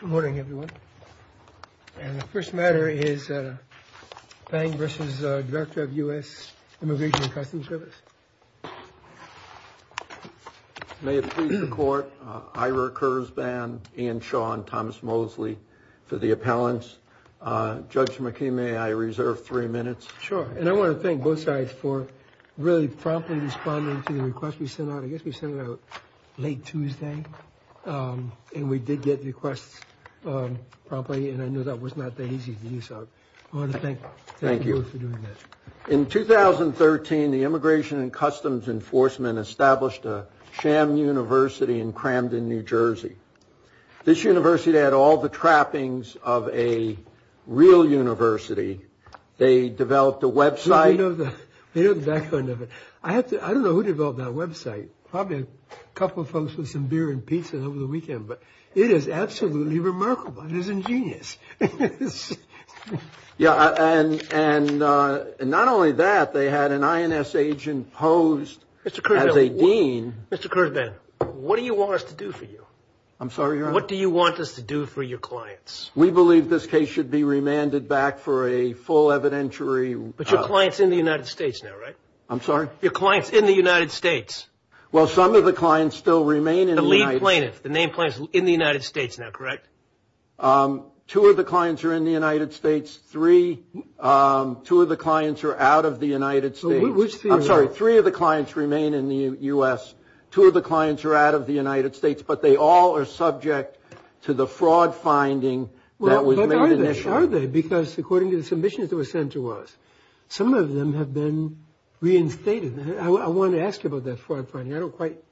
Good morning everyone. And the first matter is Fabg v. Director of U.S. Immigration&Customs Service. May it please the court, Ira Kurzban, Ian Shaw, and Thomas Mosley for the appellants. Judge McKee, may I reserve three minutes? Sure. And I want to thank both sides for really promptly responding to the request we sent out. I guess we sent it out late Tuesday and we did get requests promptly and I know that was not that easy to use. So I want to thank you both for doing that. In 2013, the Immigration&Customs Enforcement established a sham university in Cramden, New Jersey. This university had all the trappings of a real university. They developed a website. I don't know who developed that website. Probably a couple folks with some beer and pizza over the weekend. But it is absolutely remarkable. It is ingenious. Yeah. And not only that, they had an INS agent posed as a dean. Mr. Kurzban, what do you want us to do for you? I'm sorry, Your Honor? What do you want us to do for your clients? We believe this case should be remanded back for a full evidentiary. But your client's in the United States now, right? I'm sorry? Your client's in the United States. Well, some of the clients still remain in the United States. The lead plaintiff, the main plaintiff is in the United States now, correct? Two of the clients are in the United States. Three, two of the clients are out of the United States. I'm sorry, three of the clients remain in the U.S. Two of the clients are out of the United States, but they all are subject to the fraud finding that was made initially. Well, but are they? Because according to the submissions that were sent to us, some of them have been reinstated. I want to ask you about that fraud finding. I don't quite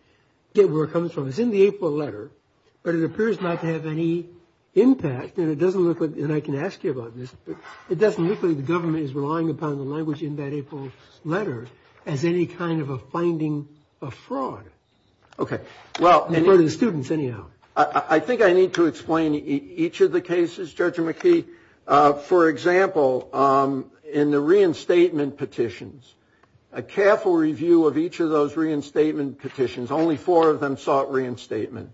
get where it comes from. It's in the April letter, but it appears not to have any impact. And it doesn't look like, and I can ask you about this, but it doesn't look like the government is relying upon the language in that April letter as any kind of a finding of fraud. OK, well. For the students, anyhow. I think I need to explain each of the cases, Judge McKee. For example, in the reinstatement petitions, a careful review of each of those reinstatement petitions, only four of them sought reinstatement.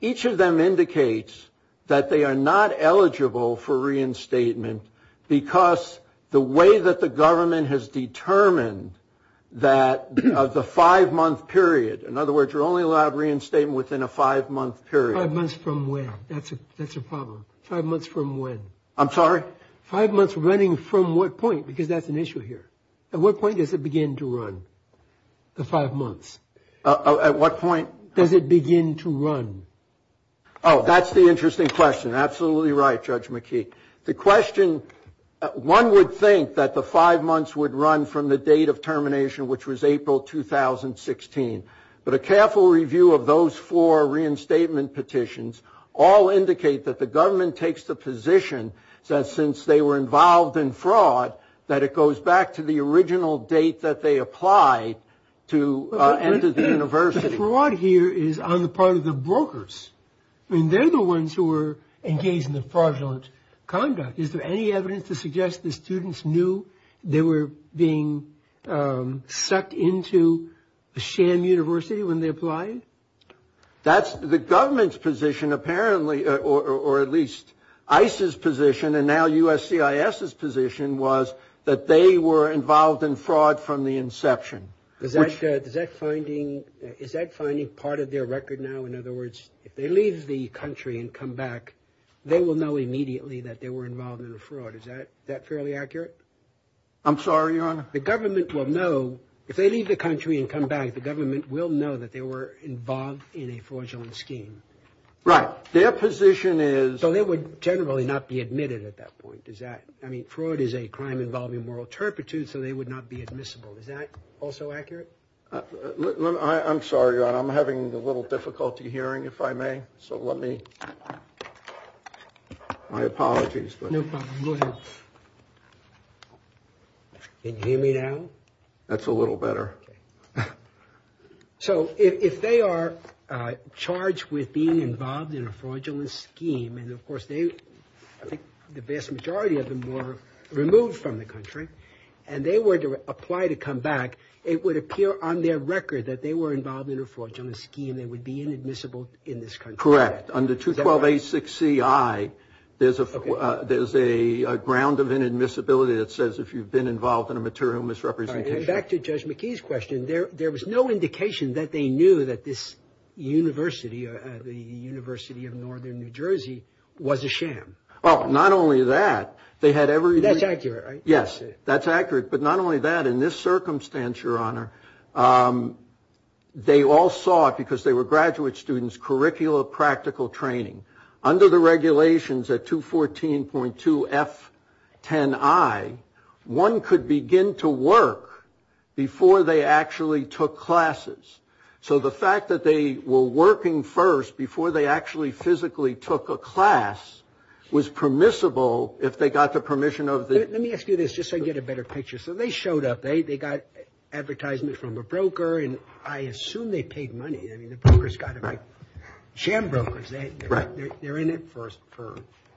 Each of them indicates that they are not eligible for reinstatement because the way that the government has determined that the five-month period. In other words, you're only allowed reinstatement within a five-month period. Five months from when? That's a problem. Five months from when? I'm sorry? Five months running from what point? Because that's an issue here. At what point does it begin to run, the five months? At what point? Does it begin to run? Oh, that's the interesting question. Absolutely right, Judge McKee. The question, one would think that the five months would run from the date of termination, which was April 2016. But a careful review of those four reinstatement petitions all indicate that the government takes the position that since they were involved in fraud, that it goes back to the original date that they applied to enter the university. But the fraud here is on the part of the brokers. I mean, they're the ones who were engaged in the fraudulent conduct. Is there any evidence to suggest the students knew they were being sucked into a sham university when they applied? That's the government's position, apparently, or at least ICE's position and now USCIS's position was that they were involved in fraud from the inception. Is that finding part of their record now? In other words, if they leave the country and come back, they will know immediately that they were involved in a fraud. Is that fairly accurate? I'm sorry, Your Honor. The government will know if they leave the country and come back. The government will know that they were involved in a fraudulent scheme. Right. Their position is. So they would generally not be admitted at that point. I mean, fraud is a crime involving moral turpitude, so they would not be admissible. Is that also accurate? I'm sorry, Your Honor. I'm having a little difficulty hearing, if I may. So let me. My apologies. No problem. Go ahead. Can you hear me now? That's a little better. So if they are charged with being involved in a fraudulent scheme, and of course, they I think the vast majority of them were removed from the country. And they were to apply to come back. It would appear on their record that they were involved in a fraudulent scheme. They would be inadmissible in this country. Correct. Under 212-86-CI, there's a there's a ground of inadmissibility that says if you've been involved in a material misrepresentation. Back to Judge McKee's question. There was no indication that they knew that this university, the University of Northern New Jersey, was a sham. Well, not only that, they had every. That's accurate, right? Yes, that's accurate. But not only that, in this circumstance, Your Honor. They all saw it because they were graduate students, curricula, practical training under the regulations at 214.2-F-10-I. One could begin to work before they actually took classes. So the fact that they were working first before they actually physically took a class was permissible if they got the permission of. Let me ask you this just so I get a better picture. So they showed up. They got advertisement from a broker, and I assume they paid money. I mean, the broker's got to be sham brokers. They're in it for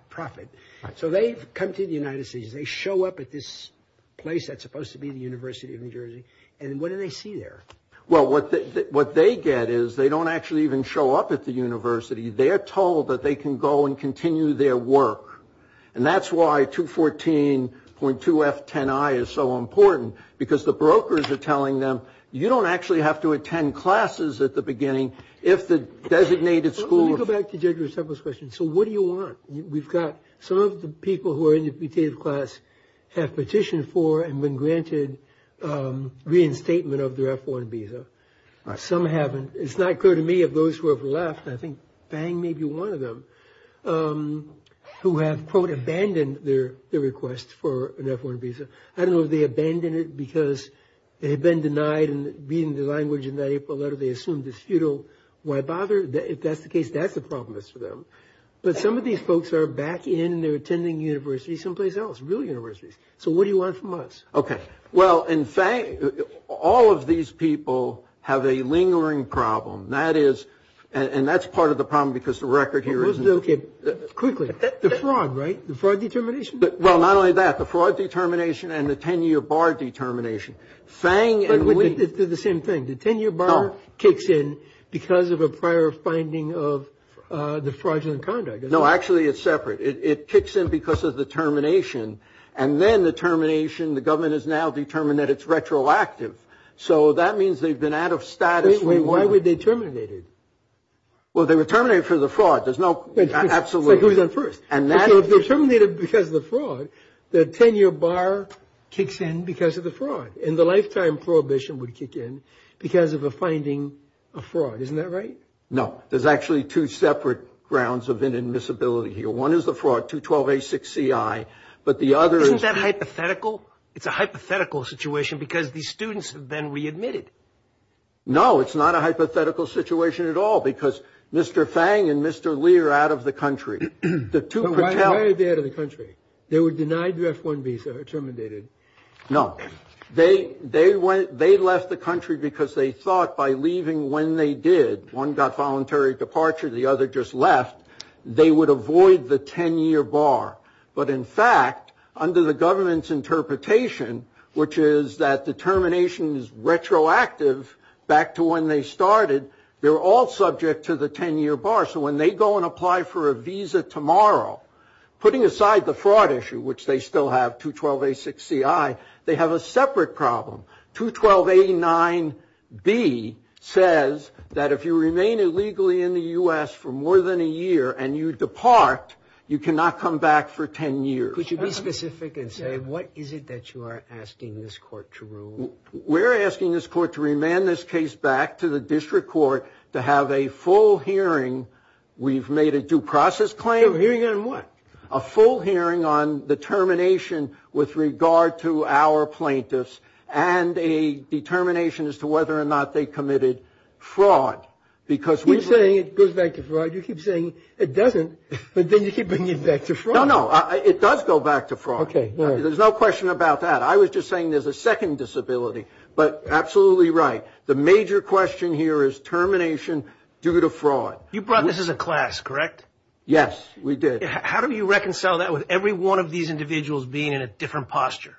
profit. So they come to the United States. They show up at this place that's supposed to be the University of New Jersey. And what do they see there? Well, what they get is they don't actually even show up at the university. They are told that they can go and continue their work. And that's why 214.2-F-10-I is so important, because the brokers are telling them, you don't actually have to attend classes at the beginning if the designated school. Let me go back to Judge Rousseffo's question. So what do you want? We've got some of the people who are in the petitive class have petitioned for and been granted reinstatement of their F-1 visa. Some haven't. It's not clear to me of those who have left. I think Fang may be one of them who have, quote, abandoned their request for an F-1 visa. I don't know if they abandoned it because it had been denied and being the language in that April letter they assumed is futile. Why bother? If that's the case, that's the problem is for them. But some of these folks are back in. They're attending university someplace else, real universities. So what do you want from us? Okay. Well, in fact, all of these people have a lingering problem. That is, and that's part of the problem because the record here isn't. Okay. Quickly. The fraud, right? The fraud determination? Well, not only that. The fraud determination and the 10-year bar determination. Fang and we. They're the same thing. The 10-year bar kicks in because of a prior finding of the fraudulent conduct. No, actually it's separate. It kicks in because of the termination. And then the termination, the government has now determined that it's retroactive. So that means they've been out of status. Wait. Why were they terminated? Well, they were terminated for the fraud. There's no. Absolutely. So who's in first? And that is. So if they're terminated because of the fraud, the 10-year bar kicks in because of the fraud. And the lifetime prohibition would kick in because of a finding of fraud. Isn't that right? No. There's actually two separate grounds of inadmissibility here. One is the fraud, 212A6CI. But the other is. Isn't that hypothetical? It's a hypothetical situation because these students have been readmitted. No, it's not a hypothetical situation at all. Because Mr. Fang and Mr. Lee are out of the country. The two. They're out of the country. They were denied the F-1 visa, terminated. No. They left the country because they thought by leaving when they did. One got voluntary departure. The other just left. They would avoid the 10-year bar. But in fact, under the government's interpretation, which is that determination is retroactive back to when they started, they're all subject to the 10-year bar. So when they go and apply for a visa tomorrow, putting aside the fraud issue, which they still have, 212A6CI, they have a separate problem. 212A9B says that if you remain illegally in the U.S. for more than a year and you depart, you cannot come back for 10 years. Could you be specific and say what is it that you are asking this court to rule? We're asking this court to remand this case back to the district court to have a full hearing. We've made a due process claim. A hearing on what? A full hearing on the termination with regard to our plaintiffs and a determination as to whether or not they committed fraud. You keep saying it goes back to fraud. You keep saying it doesn't, but then you keep bringing it back to fraud. No, no. It does go back to fraud. Okay, all right. There's no question about that. I was just saying there's a second disability. But absolutely right. The major question here is termination due to fraud. You brought this as a class, correct? Yes, we did. How do you reconcile that with every one of these individuals being in a different posture?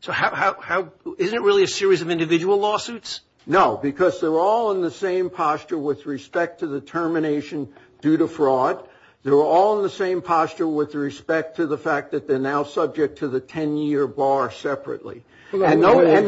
So isn't it really a series of individual lawsuits? No, because they're all in the same posture with respect to the termination due to fraud. They're all in the same posture with respect to the fact that they're now subject to the 10-year bar separately. Hold on. Where's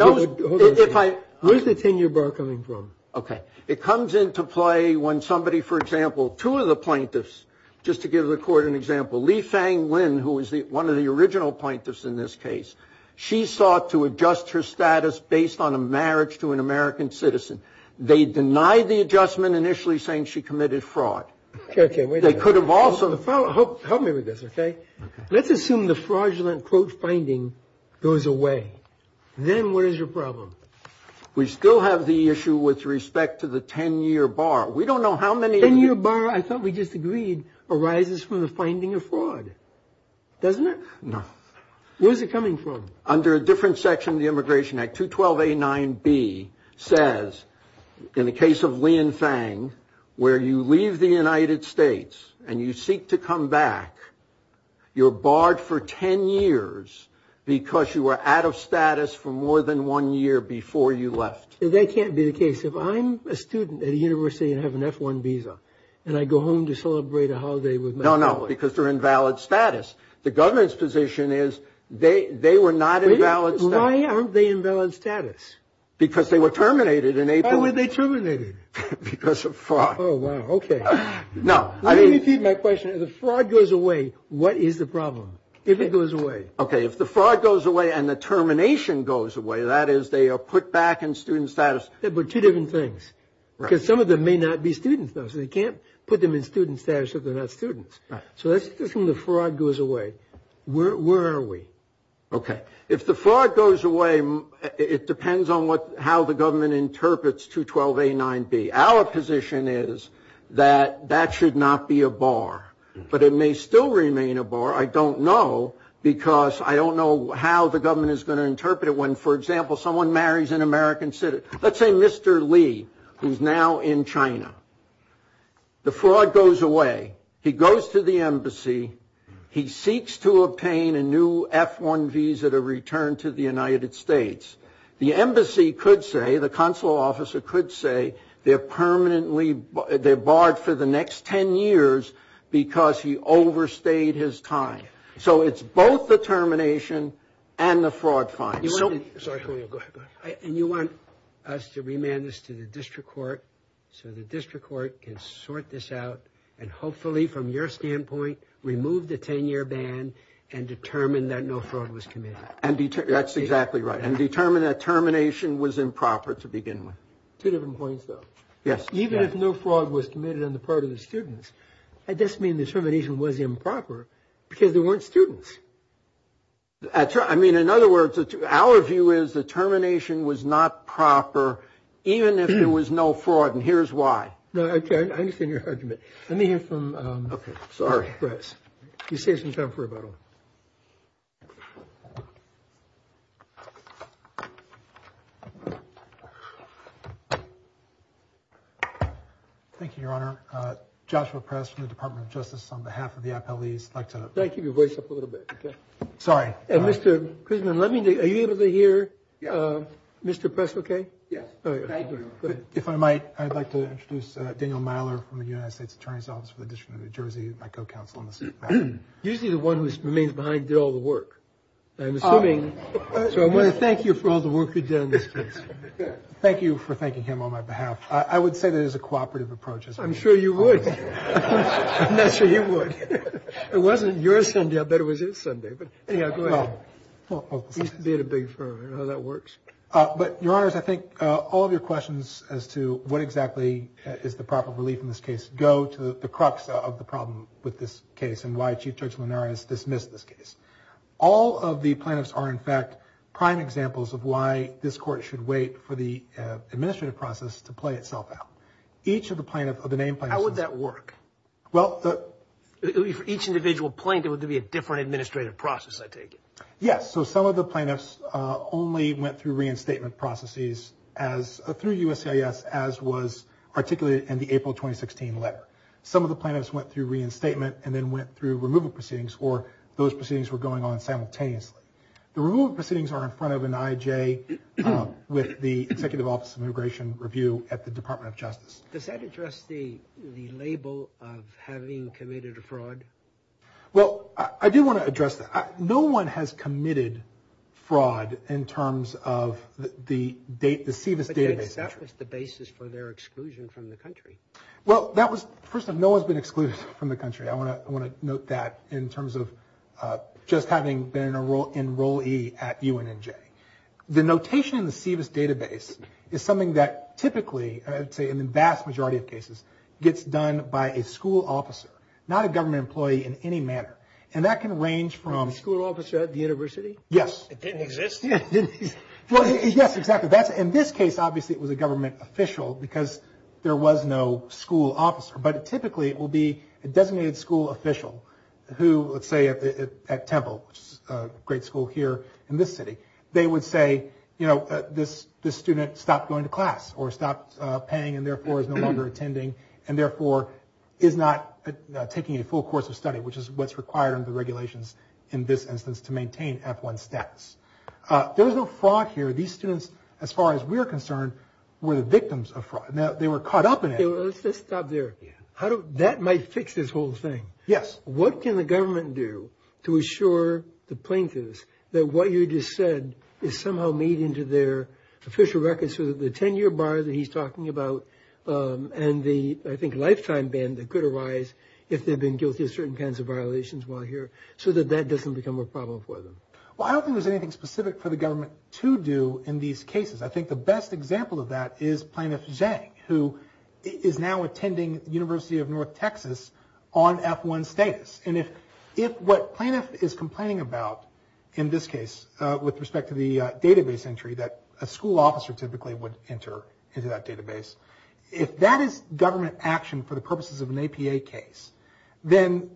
the 10-year bar coming from? Okay. It comes into play when somebody, for example, two of the plaintiffs, just to give the court an example, Li-Fang Lin, who was one of the original plaintiffs in this case, she sought to adjust her status based on a marriage to an American citizen. They denied the adjustment initially saying she committed fraud. Okay, wait a minute. They could have also. Help me with this, okay? Okay. Let's assume the fraudulent quote finding goes away. Then where's your problem? We still have the issue with respect to the 10-year bar. We don't know how many. 10-year bar, I thought we just agreed, arises from the finding of fraud, doesn't it? No. Where's it coming from? Under a different section of the Immigration Act, 212A9B says, in the case of Li and Fang, where you leave the United States and you seek to come back, you're barred for 10 years because you were out of status for more than one year before you left. That can't be the case. If I'm a student at a university and have an F-1 visa and I go home to celebrate a holiday with my family. No, no, because they're in valid status. The government's position is they were not in valid status. Why aren't they in valid status? Because they were terminated in April. Why were they terminated? Because of fraud. Oh, wow. Okay. Let me repeat my question. If the fraud goes away, what is the problem? If it goes away. Okay, if the fraud goes away and the termination goes away, that is they are put back in student status. Yeah, but two different things. Because some of them may not be students though, so they can't put them in student status if they're not students. Right. So that's when the fraud goes away. Where are we? Okay. If the fraud goes away, it depends on how the government interprets 212A9B. Our position is that that should not be a bar, but it may still remain a bar. I don't know because I don't know how the government is going to interpret it when, for example, someone marries an American citizen. Let's say Mr. Li, who's now in China. The fraud goes away. He goes to the embassy. He seeks to obtain a new F-1 visa to return to the United States. The embassy could say, the consular officer could say, they're barred for the next 10 years because he overstayed his time. So it's both the termination and the fraud fine. And you want us to remand this to the district court so the district court can sort this out and hopefully from your standpoint remove the 10-year ban and determine that no fraud was committed. That's exactly right. And determine that termination was improper to begin with. Two different points, though. Yes. Even if no fraud was committed on the part of the students, that doesn't mean the termination was improper because there weren't students. I mean, in other words, our view is the termination was not proper, even if there was no fraud. And here's why. No, I understand your argument. Let me hear from Bress. You saved some time for rebuttal. Thank you, Your Honor. Joshua Press from the Department of Justice on behalf of the appellees. Can I keep your voice up a little bit? Sorry. Mr. Crisman, are you able to hear Mr. Press okay? Yes. If I might, I'd like to introduce Daniel Myler from the United States Attorney's Office for the District of New Jersey, my co-counsel on this matter. Usually the one who remains behind did all the work, I'm assuming. So I want to thank you for all the work you've done in this case. Thank you for thanking him on my behalf. I would say that it is a cooperative approach. I'm sure you would. I'm not sure you would. It wasn't your Sunday. I bet it was his Sunday. But, anyhow, go ahead. He used to be at a big firm. I don't know how that works. But, Your Honors, I think all of your questions as to what exactly is the proper relief in this case go to the crux of the problem with this case and why Chief Judge Linares dismissed this case. All of the plaintiffs are, in fact, prime examples of why this court should wait for the administrative process to play itself out. Each of the plaintiffs, of the named plaintiffs. How would that work? Well, the... For each individual plaintiff, it would be a different administrative process, I take it. Yes. So some of the plaintiffs only went through reinstatement processes through USCIS as was articulated in the April 2016 letter. Some of the plaintiffs went through reinstatement and then went through removal proceedings, or those proceedings were going on simultaneously. The removal proceedings are in front of an IJ with the Executive Office of Immigration Review at the Department of Justice. Does that address the label of having committed a fraud? Well, I do want to address that. No one has committed fraud in terms of the SEVIS database. But that was the basis for their exclusion from the country. Well, that was... First off, no one's been excluded from the country. I want to note that in terms of just having been an enrollee at UNNJ. The notation in the SEVIS database is something that typically, I'd say in the vast majority of cases, gets done by a school officer, not a government employee in any manner. And that can range from... A school officer at the university? Yes. It didn't exist? Yes, exactly. In this case, obviously, it was a government official because there was no school officer. But typically, it will be a designated school official who, let's say at Temple, which is a great school here in this city, they would say, you know, this student stopped going to class or stopped paying and therefore is no longer attending and therefore is not taking a full course of study, which is what's required under the regulations in this instance to maintain F-1 status. There was no fraud here. These students, as far as we're concerned, were the victims of fraud. They were caught up in it. Let's just stop there. How do... That might fix this whole thing. Yes. What can the government do to assure the plaintiffs that what you just said is somehow made into their official records so that the 10-year bar that he's talking about and the, I think, lifetime ban that could arise if they've been guilty of certain kinds of violations while here so that that doesn't become a problem for them? Well, I don't think there's anything specific for the government to do in these cases. I think the best example of that is Plaintiff Zhang, who is now attending the University of North Texas on F-1 status. And if what plaintiff is complaining about in this case with respect to the database entry that a school officer typically would enter into that database, if that is government action for the purposes of an APA case, then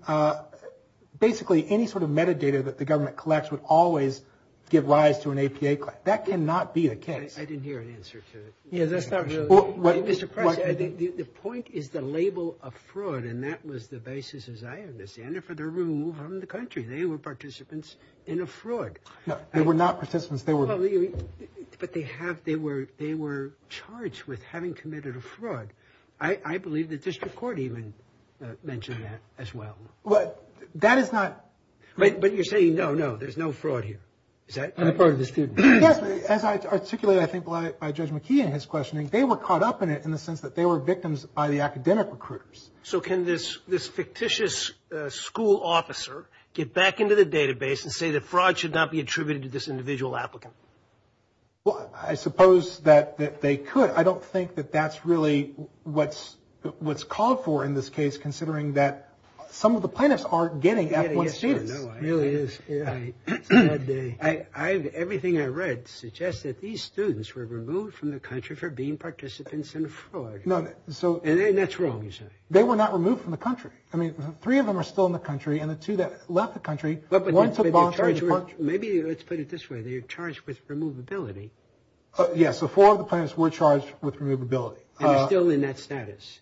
basically any sort of metadata that the government collects would always give rise to an APA claim. That cannot be the case. I didn't hear an answer to that. Yeah, that's not really... Mr. Price, the point is the label of fraud. And that was the basis, as I understand it, for the removal from the country. They were participants in a fraud. No, they were not participants. But they were charged with having committed a fraud. I believe the district court even mentioned that as well. Well, that is not... But you're saying, no, no, there's no fraud here. I'm a part of the student. As I articulated, I think, by Judge McKee in his questioning, they were caught up in it in the sense that they were victims by the academic recruiters. So can this fictitious school officer get back into the database and say that fraud should not be attributed to this individual applicant? Well, I suppose that they could. I don't think that that's really what's called for in this case, considering that some of the plaintiffs aren't getting F1 students. It really is. Everything I read suggests that these students were removed from the country for being participants in a fraud. And that's wrong, you say. They were not removed from the country. I mean, three of them are still in the country, and the two that left the country, one took voluntary departure. Maybe let's put it this way. They were charged with removability. Yes, so four of the plaintiffs were charged with removability. And they're still in that status.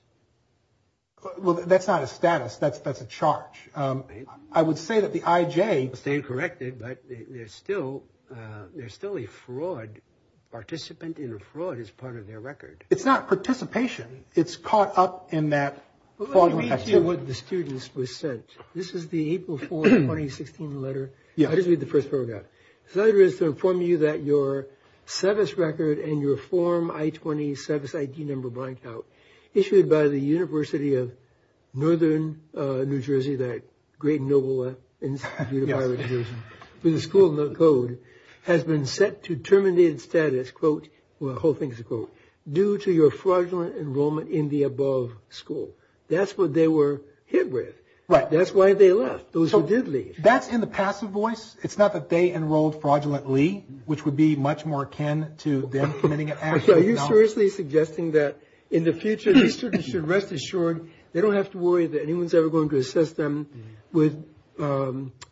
Well, that's not a status. That's a charge. I would say that the IJ... Staying corrected, but there's still a fraud. Participant in a fraud is part of their record. It's not participation. It's caught up in that fraud. Let me read you what the students were sent. This is the April 4, 2016 letter. I'll just read the first paragraph. This letter is to inform you that your SEVIS record and your form I-20 SEVIS ID number blanked out, issued by the University of Northern New Jersey, that great and noble institution, with a school code, has been set to terminated status, quote, the whole thing is a quote, due to your fraudulent enrollment in the above school. That's what they were hit with. Right. That's why they left, those who did leave. That's in the passive voice. It's not that they enrolled fraudulently, which would be much more akin to them committing an act. Are you seriously suggesting that in the future these students should rest assured they don't have to worry that anyone's ever going to assess them with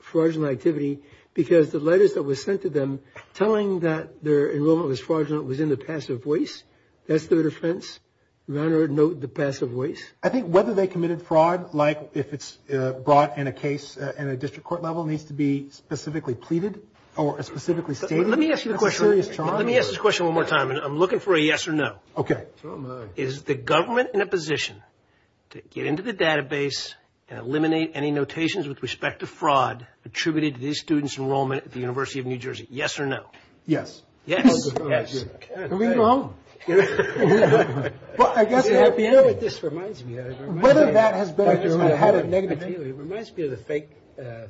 fraudulent activity because the letters that were sent to them telling that their enrollment was fraudulent was in the passive voice? That's their defense? Run or note the passive voice? I think whether they committed fraud, like if it's brought in a case in a district court level, needs to be specifically pleaded or specifically stated. Let me ask you a question. That's a serious challenge. Let me ask this question one more time, and I'm looking for a yes or no. Okay. Is the government in a position to get into the database and eliminate any notations with respect to fraud attributed to these students' enrollment at the University of New Jersey, yes or no? Yes. Yes. Yes. I mean, you're wrong. You know what this reminds me of? It reminds me of the fake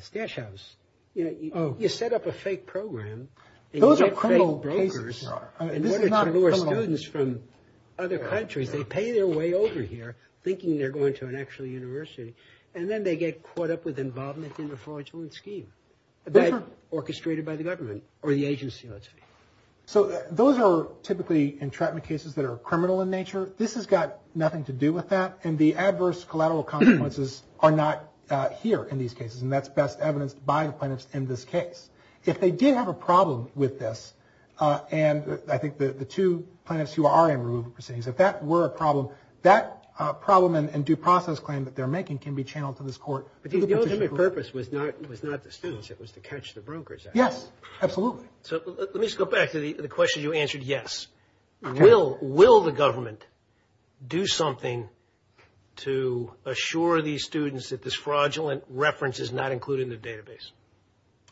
stash house. You set up a fake program. Those are criminal cases. In order to lure students from other countries, they pay their way over here thinking they're going to an actual university, and then they get caught up with involvement in a fraudulent scheme orchestrated by the government or the agency, let's say. So those are typically entrapment cases that are criminal in nature. This has got nothing to do with that, and the adverse collateral consequences are not here in these cases, and that's best evidenced by the plaintiffs in this case. If they did have a problem with this, and I think the two plaintiffs who are in removal proceedings, if that were a problem, that problem and due process claim that they're making can be channeled to this court. But the ultimate purpose was not the students. It was to catch the brokers, actually. Yes, absolutely. So let me just go back to the question you answered, yes. Will the government do something to assure these students that this fraudulent reference is not included in the database?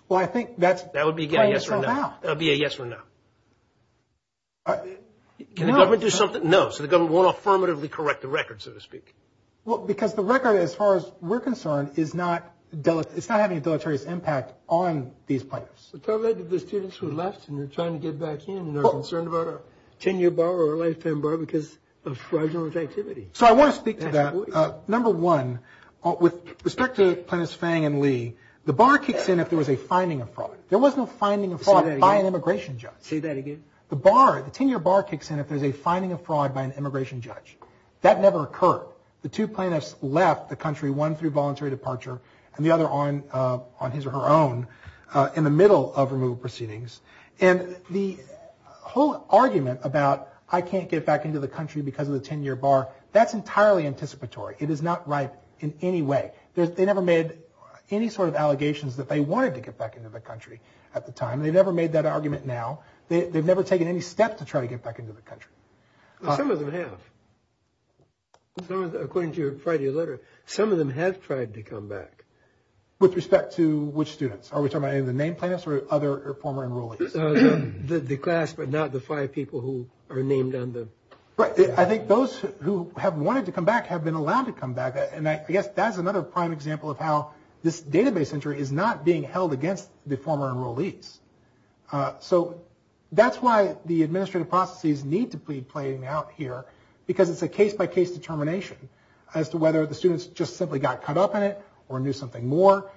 Well, I think that's playing itself out. That would be a yes or no. Can the government do something? No. So the government won't affirmatively correct the record, so to speak. Well, because the record, as far as we're concerned, is not having a deleterious impact on these plaintiffs. So tell that to the students who left and are trying to get back in and are concerned about a 10-year bar or a lifetime bar because of fraudulent activity. So I want to speak to that. Number one, with respect to Plaintiffs Fang and Lee, the bar kicks in if there was a finding of fraud. There was no finding of fraud by an immigration judge. Say that again. The bar, the 10-year bar kicks in if there's a finding of fraud by an immigration judge. That never occurred. The two plaintiffs left the country, one through voluntary departure and the other on his or her own, in the middle of removal proceedings. And the whole argument about I can't get back into the country because of the 10-year bar, that's entirely anticipatory. It is not right in any way. They never made any sort of allegations that they wanted to get back into the country at the time. They've never made that argument now. They've never taken any step to try to get back into the country. Some of them have. According to your Friday letter, some of them have tried to come back. With respect to which students? Are we talking about the named plaintiffs or other former enrollees? The class, but not the five people who are named on the. I think those who have wanted to come back have been allowed to come back. And I guess that's another prime example of how this database entry is not being held against the former enrollees. So that's why the administrative processes need to be playing out here, because it's a case-by-case determination as to whether the students just simply got caught up in it or knew something more.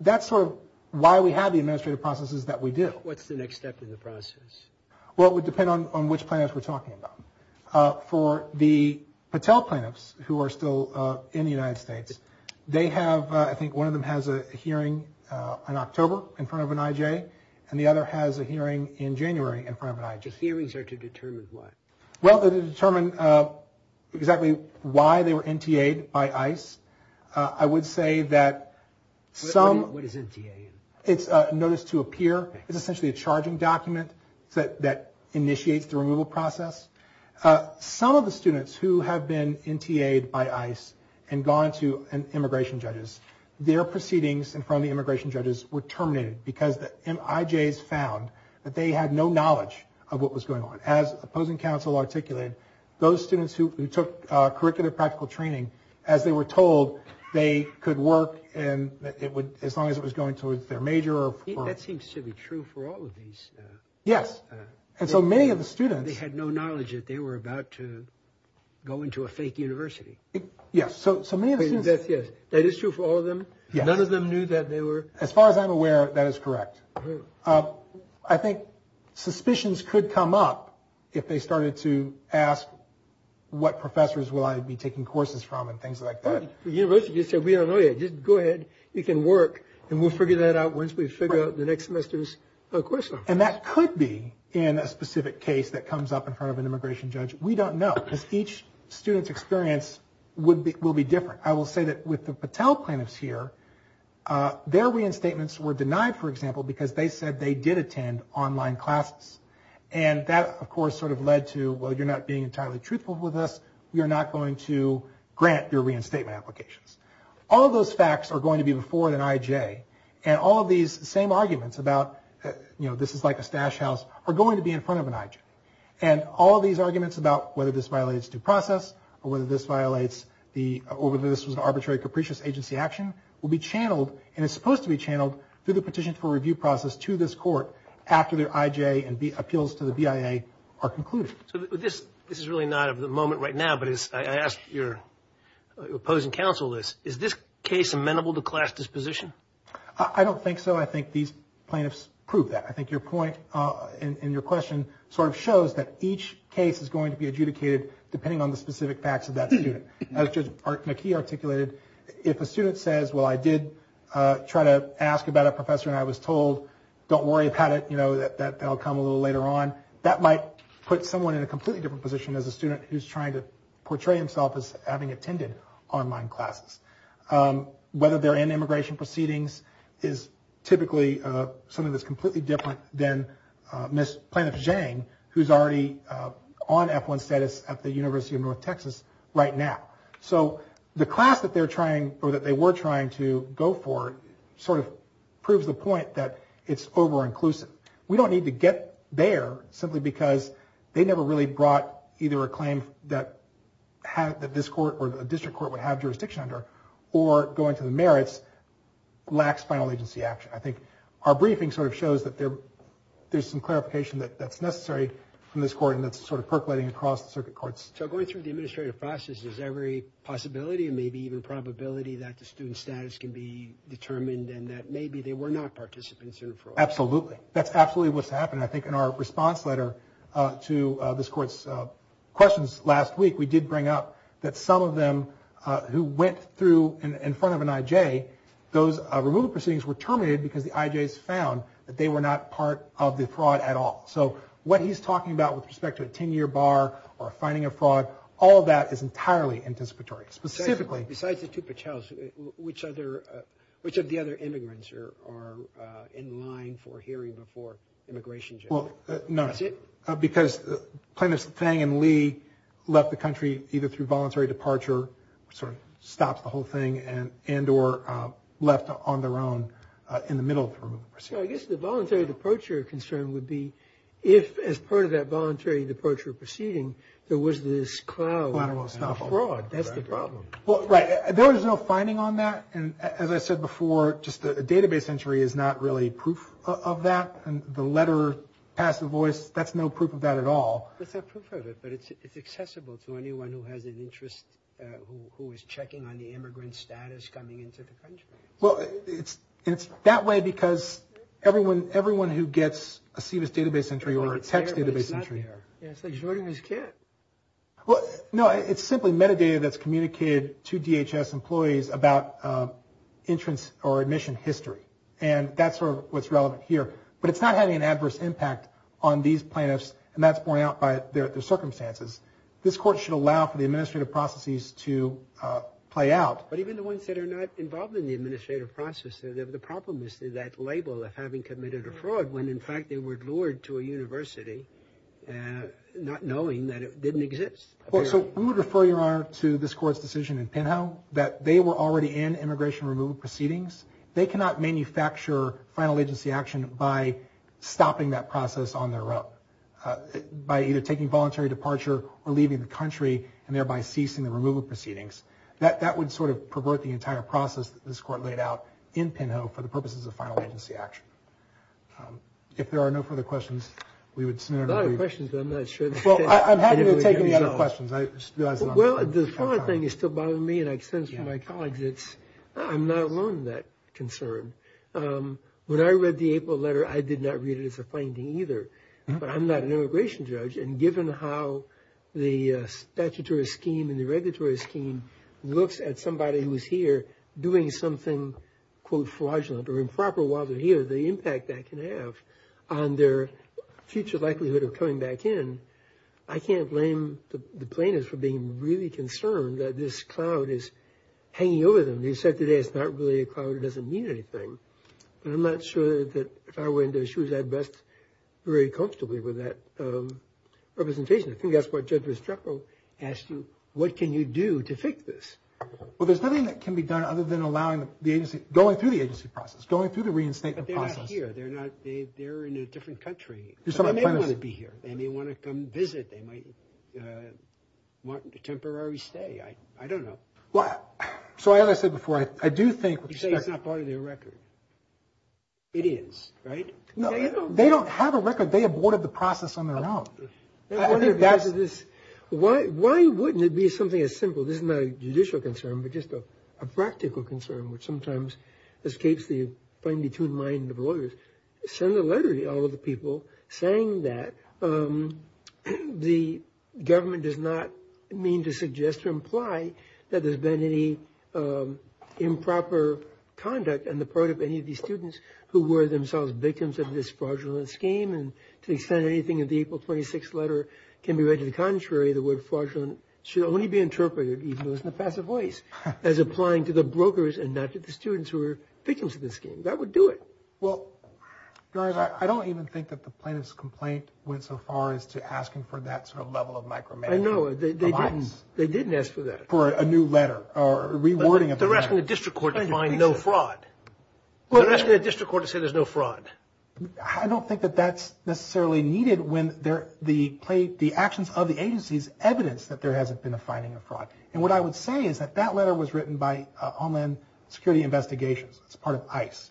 That's sort of why we have the administrative processes that we do. What's the next step in the process? Well, it would depend on which plaintiffs we're talking about. For the Patel plaintiffs who are still in the United States, I think one of them has a hearing in October in front of an IJ, and the other has a hearing in January in front of an IJ. The hearings are to determine what? Well, they're to determine exactly why they were NTA'd by ICE. I would say that some... What is NTA? It's a Notice to Appear. It's essentially a charging document that initiates the removal process. Some of the students who have been NTA'd by ICE and gone to immigration judges, their proceedings in front of the immigration judges were terminated because the IJs found that they had no knowledge of what was going on. And as opposing counsel articulated, those students who took curricular practical training, as they were told, they could work as long as it was going towards their major. That seems to be true for all of these. Yes. And so many of the students... They had no knowledge that they were about to go into a fake university. Yes. That is true for all of them? None of them knew that they were... As far as I'm aware, that is correct. I think suspicions could come up if they started to ask, what professors will I be taking courses from and things like that. The university just said, we don't know yet. Just go ahead. You can work, and we'll figure that out once we figure out the next semester's course. And that could be in a specific case that comes up in front of an immigration judge. We don't know because each student's experience will be different. I will say that with the Patel plaintiffs here, their reinstatements were denied, for example, because they said they did attend online classes. And that, of course, sort of led to, well, you're not being entirely truthful with us. We are not going to grant your reinstatement applications. All of those facts are going to be before an IJ. And all of these same arguments about, you know, this is like a stash house are going to be in front of an IJ. And all of these arguments about whether this violates due process or whether this violates the... will be channeled, and it's supposed to be channeled, through the petition for review process to this court after their IJ and appeals to the BIA are concluded. So this is really not of the moment right now, but I ask your opposing counsel this. Is this case amenable to class disposition? I don't think so. I think these plaintiffs proved that. I think your point and your question sort of shows that each case is going to be adjudicated depending on the specific facts of that student. As Judge McKee articulated, if a student says, well, I did try to ask about a professor and I was told, don't worry about it, you know, that they'll come a little later on, that might put someone in a completely different position as a student who's trying to portray himself as having attended online classes. Whether they're in immigration proceedings is typically something that's completely different than Ms. Plaintiff Zhang, who's already on F-1 status at the University of North Texas right now. So the class that they were trying to go for sort of proves the point that it's over-inclusive. We don't need to get there simply because they never really brought either a claim that this court or the district court would have jurisdiction under or going to the merits lacks final agency action. I think our briefing sort of shows that there's some clarification that's necessary from this court and that's sort of percolating across the circuit courts. So going through the administrative process, is there every possibility and maybe even probability that the student's status can be determined and that maybe they were not participants in fraud? Absolutely. That's absolutely what's happened. I think in our response letter to this court's questions last week, we did bring up that some of them who went through in front of an IJ, those removal proceedings were terminated because the IJs found that they were not part of the fraud at all. So what he's talking about with respect to a 10-year bar or finding a fraud, all of that is entirely anticipatory, specifically. Besides the two Pichels, which of the other immigrants are in line for hearing before immigration? Well, none. That's it? Because Plaintiff Zhang and Lee left the country either through voluntary departure, which sort of stops the whole thing, and or left on their own in the middle of the procedure. So I guess the voluntary departure concern would be if, as part of that voluntary departure proceeding, there was this cloud of fraud. That's the problem. Well, right. There was no finding on that. And as I said before, just a database entry is not really proof of that. And the letter passed the voice, that's no proof of that at all. That's not proof of it, but it's accessible to anyone who has an interest, who is checking on the immigrant status coming into the country. Well, it's that way because everyone who gets a SEVIS database entry or a text database entry. It's there, but it's not there. It's like shorting his kit. Well, no, it's simply metadata that's communicated to DHS employees about entrance or admission history. And that's what's relevant here. But it's not having an adverse impact on these plaintiffs, and that's borne out by their circumstances. This court should allow for the administrative processes to play out. But even the ones that are not involved in the administrative process, the problem is that label of having committed a fraud when, in fact, they were lured to a university not knowing that it didn't exist. Well, so we would refer, Your Honor, to this court's decision in Penhall that they were already in immigration removal proceedings. They cannot manufacture final agency action by stopping that process on their own, by either taking voluntary departure or leaving the country, and thereby ceasing the removal proceedings. That would sort of pervert the entire process that this court laid out in Penhall for the purposes of final agency action. If there are no further questions, we would sooner agree. A lot of questions, but I'm not sure. Well, I'm happy to take any other questions. Well, the fraud thing is still bothering me, and I sense from my colleagues, I'm not alone in that concern. When I read the April letter, I did not read it as a finding either. But I'm not an immigration judge, and given how the statutory scheme and the regulatory scheme looks at somebody who is here doing something, quote, fraudulent or improper while they're here, the impact that can have on their future likelihood of coming back in, I can't blame the plaintiffs for being really concerned that this cloud is hanging over them. They said today it's not really a cloud. It doesn't mean anything. But I'm not sure that if I were in their shoes, I'd rest very comfortably with that representation. I think that's what Judge Restrepo asked you, what can you do to fix this? Well, there's nothing that can be done other than allowing the agency, going through the agency process, going through the reinstatement process. But they're not here. They're in a different country. They may want to be here. They may want to come visit. They might want a temporary stay. I don't know. So as I said before, I do think – You say it's not part of their record. It is, right? They don't have a record. They aborted the process on their own. Why wouldn't it be something as simple, this is not a judicial concern, but just a practical concern, which sometimes escapes the fine-tuned mind of lawyers, send a letter to all of the people saying that the government does not mean to suggest or imply that there's been any improper conduct on the part of any of these students who were themselves victims of this fraudulent scheme. And to the extent anything in the April 26th letter can be read to the contrary, the word fraudulent should only be interpreted, even though it's in a passive voice, as applying to the brokers and not to the students who are victims of this scheme. That would do it. Well, I don't even think that the plaintiff's complaint went so far as to asking for that sort of level of micromanagement. I know. They didn't. They didn't ask for that. For a new letter or rewording of the letter. They're asking the district court to find no fraud. They're asking the district court to say there's no fraud. I don't think that that's necessarily needed when the actions of the agency is evidence that there hasn't been a finding of fraud. And what I would say is that that letter was written by Homeland Security Investigations. It's part of ICE.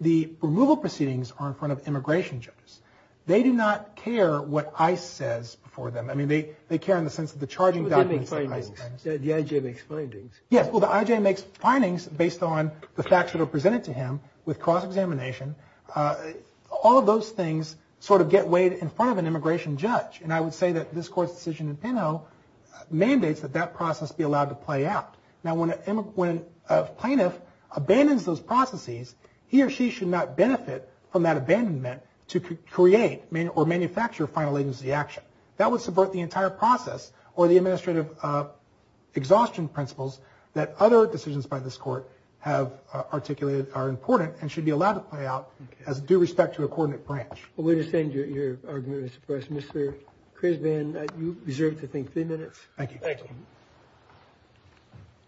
The removal proceedings are in front of immigration judges. They do not care what ICE says before them. I mean, they care in the sense of the charging documents. But they make findings. The IJ makes findings. Yes. Well, the IJ makes findings based on the facts that are presented to him with cross-examination. All of those things sort of get weighed in front of an immigration judge. And I would say that this court's decision in Penhall mandates that that process be allowed to play out. Now, when a plaintiff abandons those processes, he or she should not benefit from that abandonment to create or manufacture a final agency action. That would subvert the entire process or the administrative exhaustion principles that other decisions by this court have articulated are important and should be allowed to play out as due respect to a coordinate branch. Well, we understand your argument, Mr. Price. Mr. Crisban, you deserve to take three minutes. Thank you. Thank you.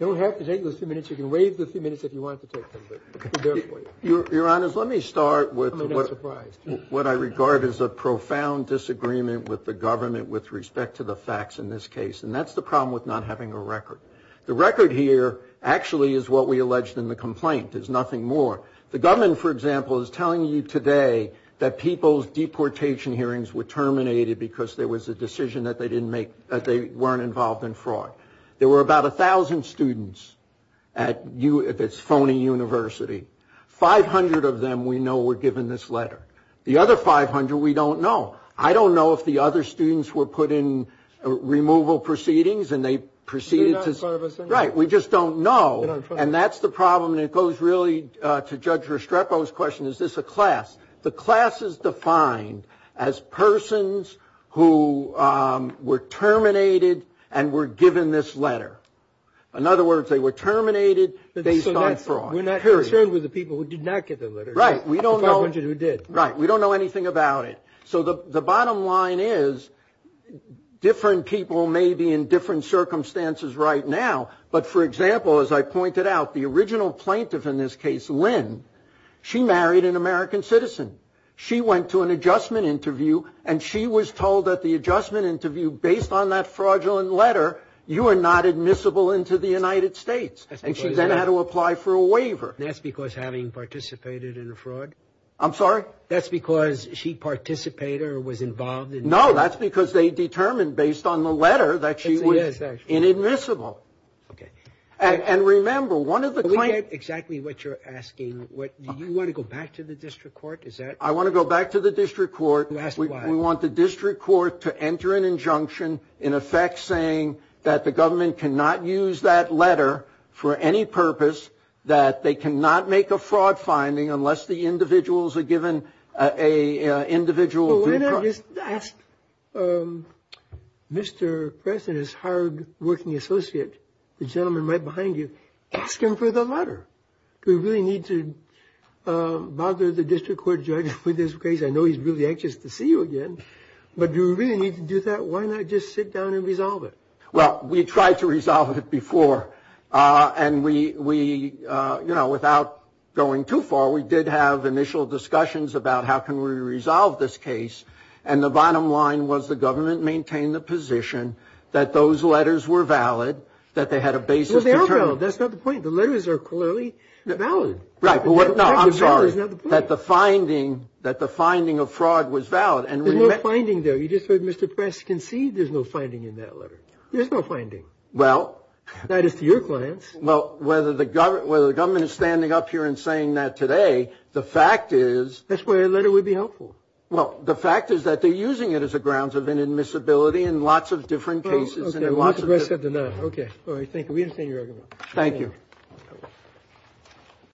You don't have to take those three minutes. You can waive the three minutes if you want to take them. Your Honor, let me start with what I regard as a profound disagreement with the government with respect to the facts in this case, and that's the problem with not having a record. The record here actually is what we alleged in the complaint. There's nothing more. The government, for example, is telling you today that people's deportation hearings were terminated because there was a decision that they weren't involved in fraud. There were about 1,000 students at this phony university. Five hundred of them we know were given this letter. The other 500 we don't know. I don't know if the other students were put in removal proceedings and they proceeded to do that. Right. We just don't know. And that's the problem. And it goes really to Judge Restrepo's question, is this a class? The class is defined as persons who were terminated and were given this letter. In other words, they were terminated based on fraud. Period. We're not concerned with the people who did not get the letter. Right. The 500 who did. Right. We don't know anything about it. So the bottom line is different people may be in different circumstances right now. She married an American citizen. She went to an adjustment interview, and she was told at the adjustment interview based on that fraudulent letter, you are not admissible into the United States. And she then had to apply for a waiver. That's because having participated in a fraud? I'm sorry? That's because she participated or was involved in fraud? Okay. And remember, one of the clients. We get exactly what you're asking. Do you want to go back to the district court? I want to go back to the district court. You asked why. We want the district court to enter an injunction, in effect, saying that the government cannot use that letter for any purpose, that they cannot make a fraud finding unless the individuals are given an individual. Well, why not just ask Mr. Preston, his hardworking associate, the gentleman right behind you, ask him for the letter? Do we really need to bother the district court judge with this case? I know he's really anxious to see you again, but do we really need to do that? Why not just sit down and resolve it? Well, we tried to resolve it before, and we, you know, without going too far, we did have initial discussions about how can we resolve this case, and the bottom line was the government maintained the position that those letters were valid, that they had a basis to determine. Well, they are valid. That's not the point. The letters are clearly valid. Right. No, I'm sorry. That the finding of fraud was valid. There's no finding, though. You just heard Mr. Preston concede there's no finding in that letter. There's no finding. Well. That is to your clients. Well, whether the government is standing up here and saying that today, the fact is. That's why a letter would be helpful. Well, the fact is that they're using it as a grounds of inadmissibility in lots of different cases. Okay. All right. Thank you. We understand your argument. Thank you.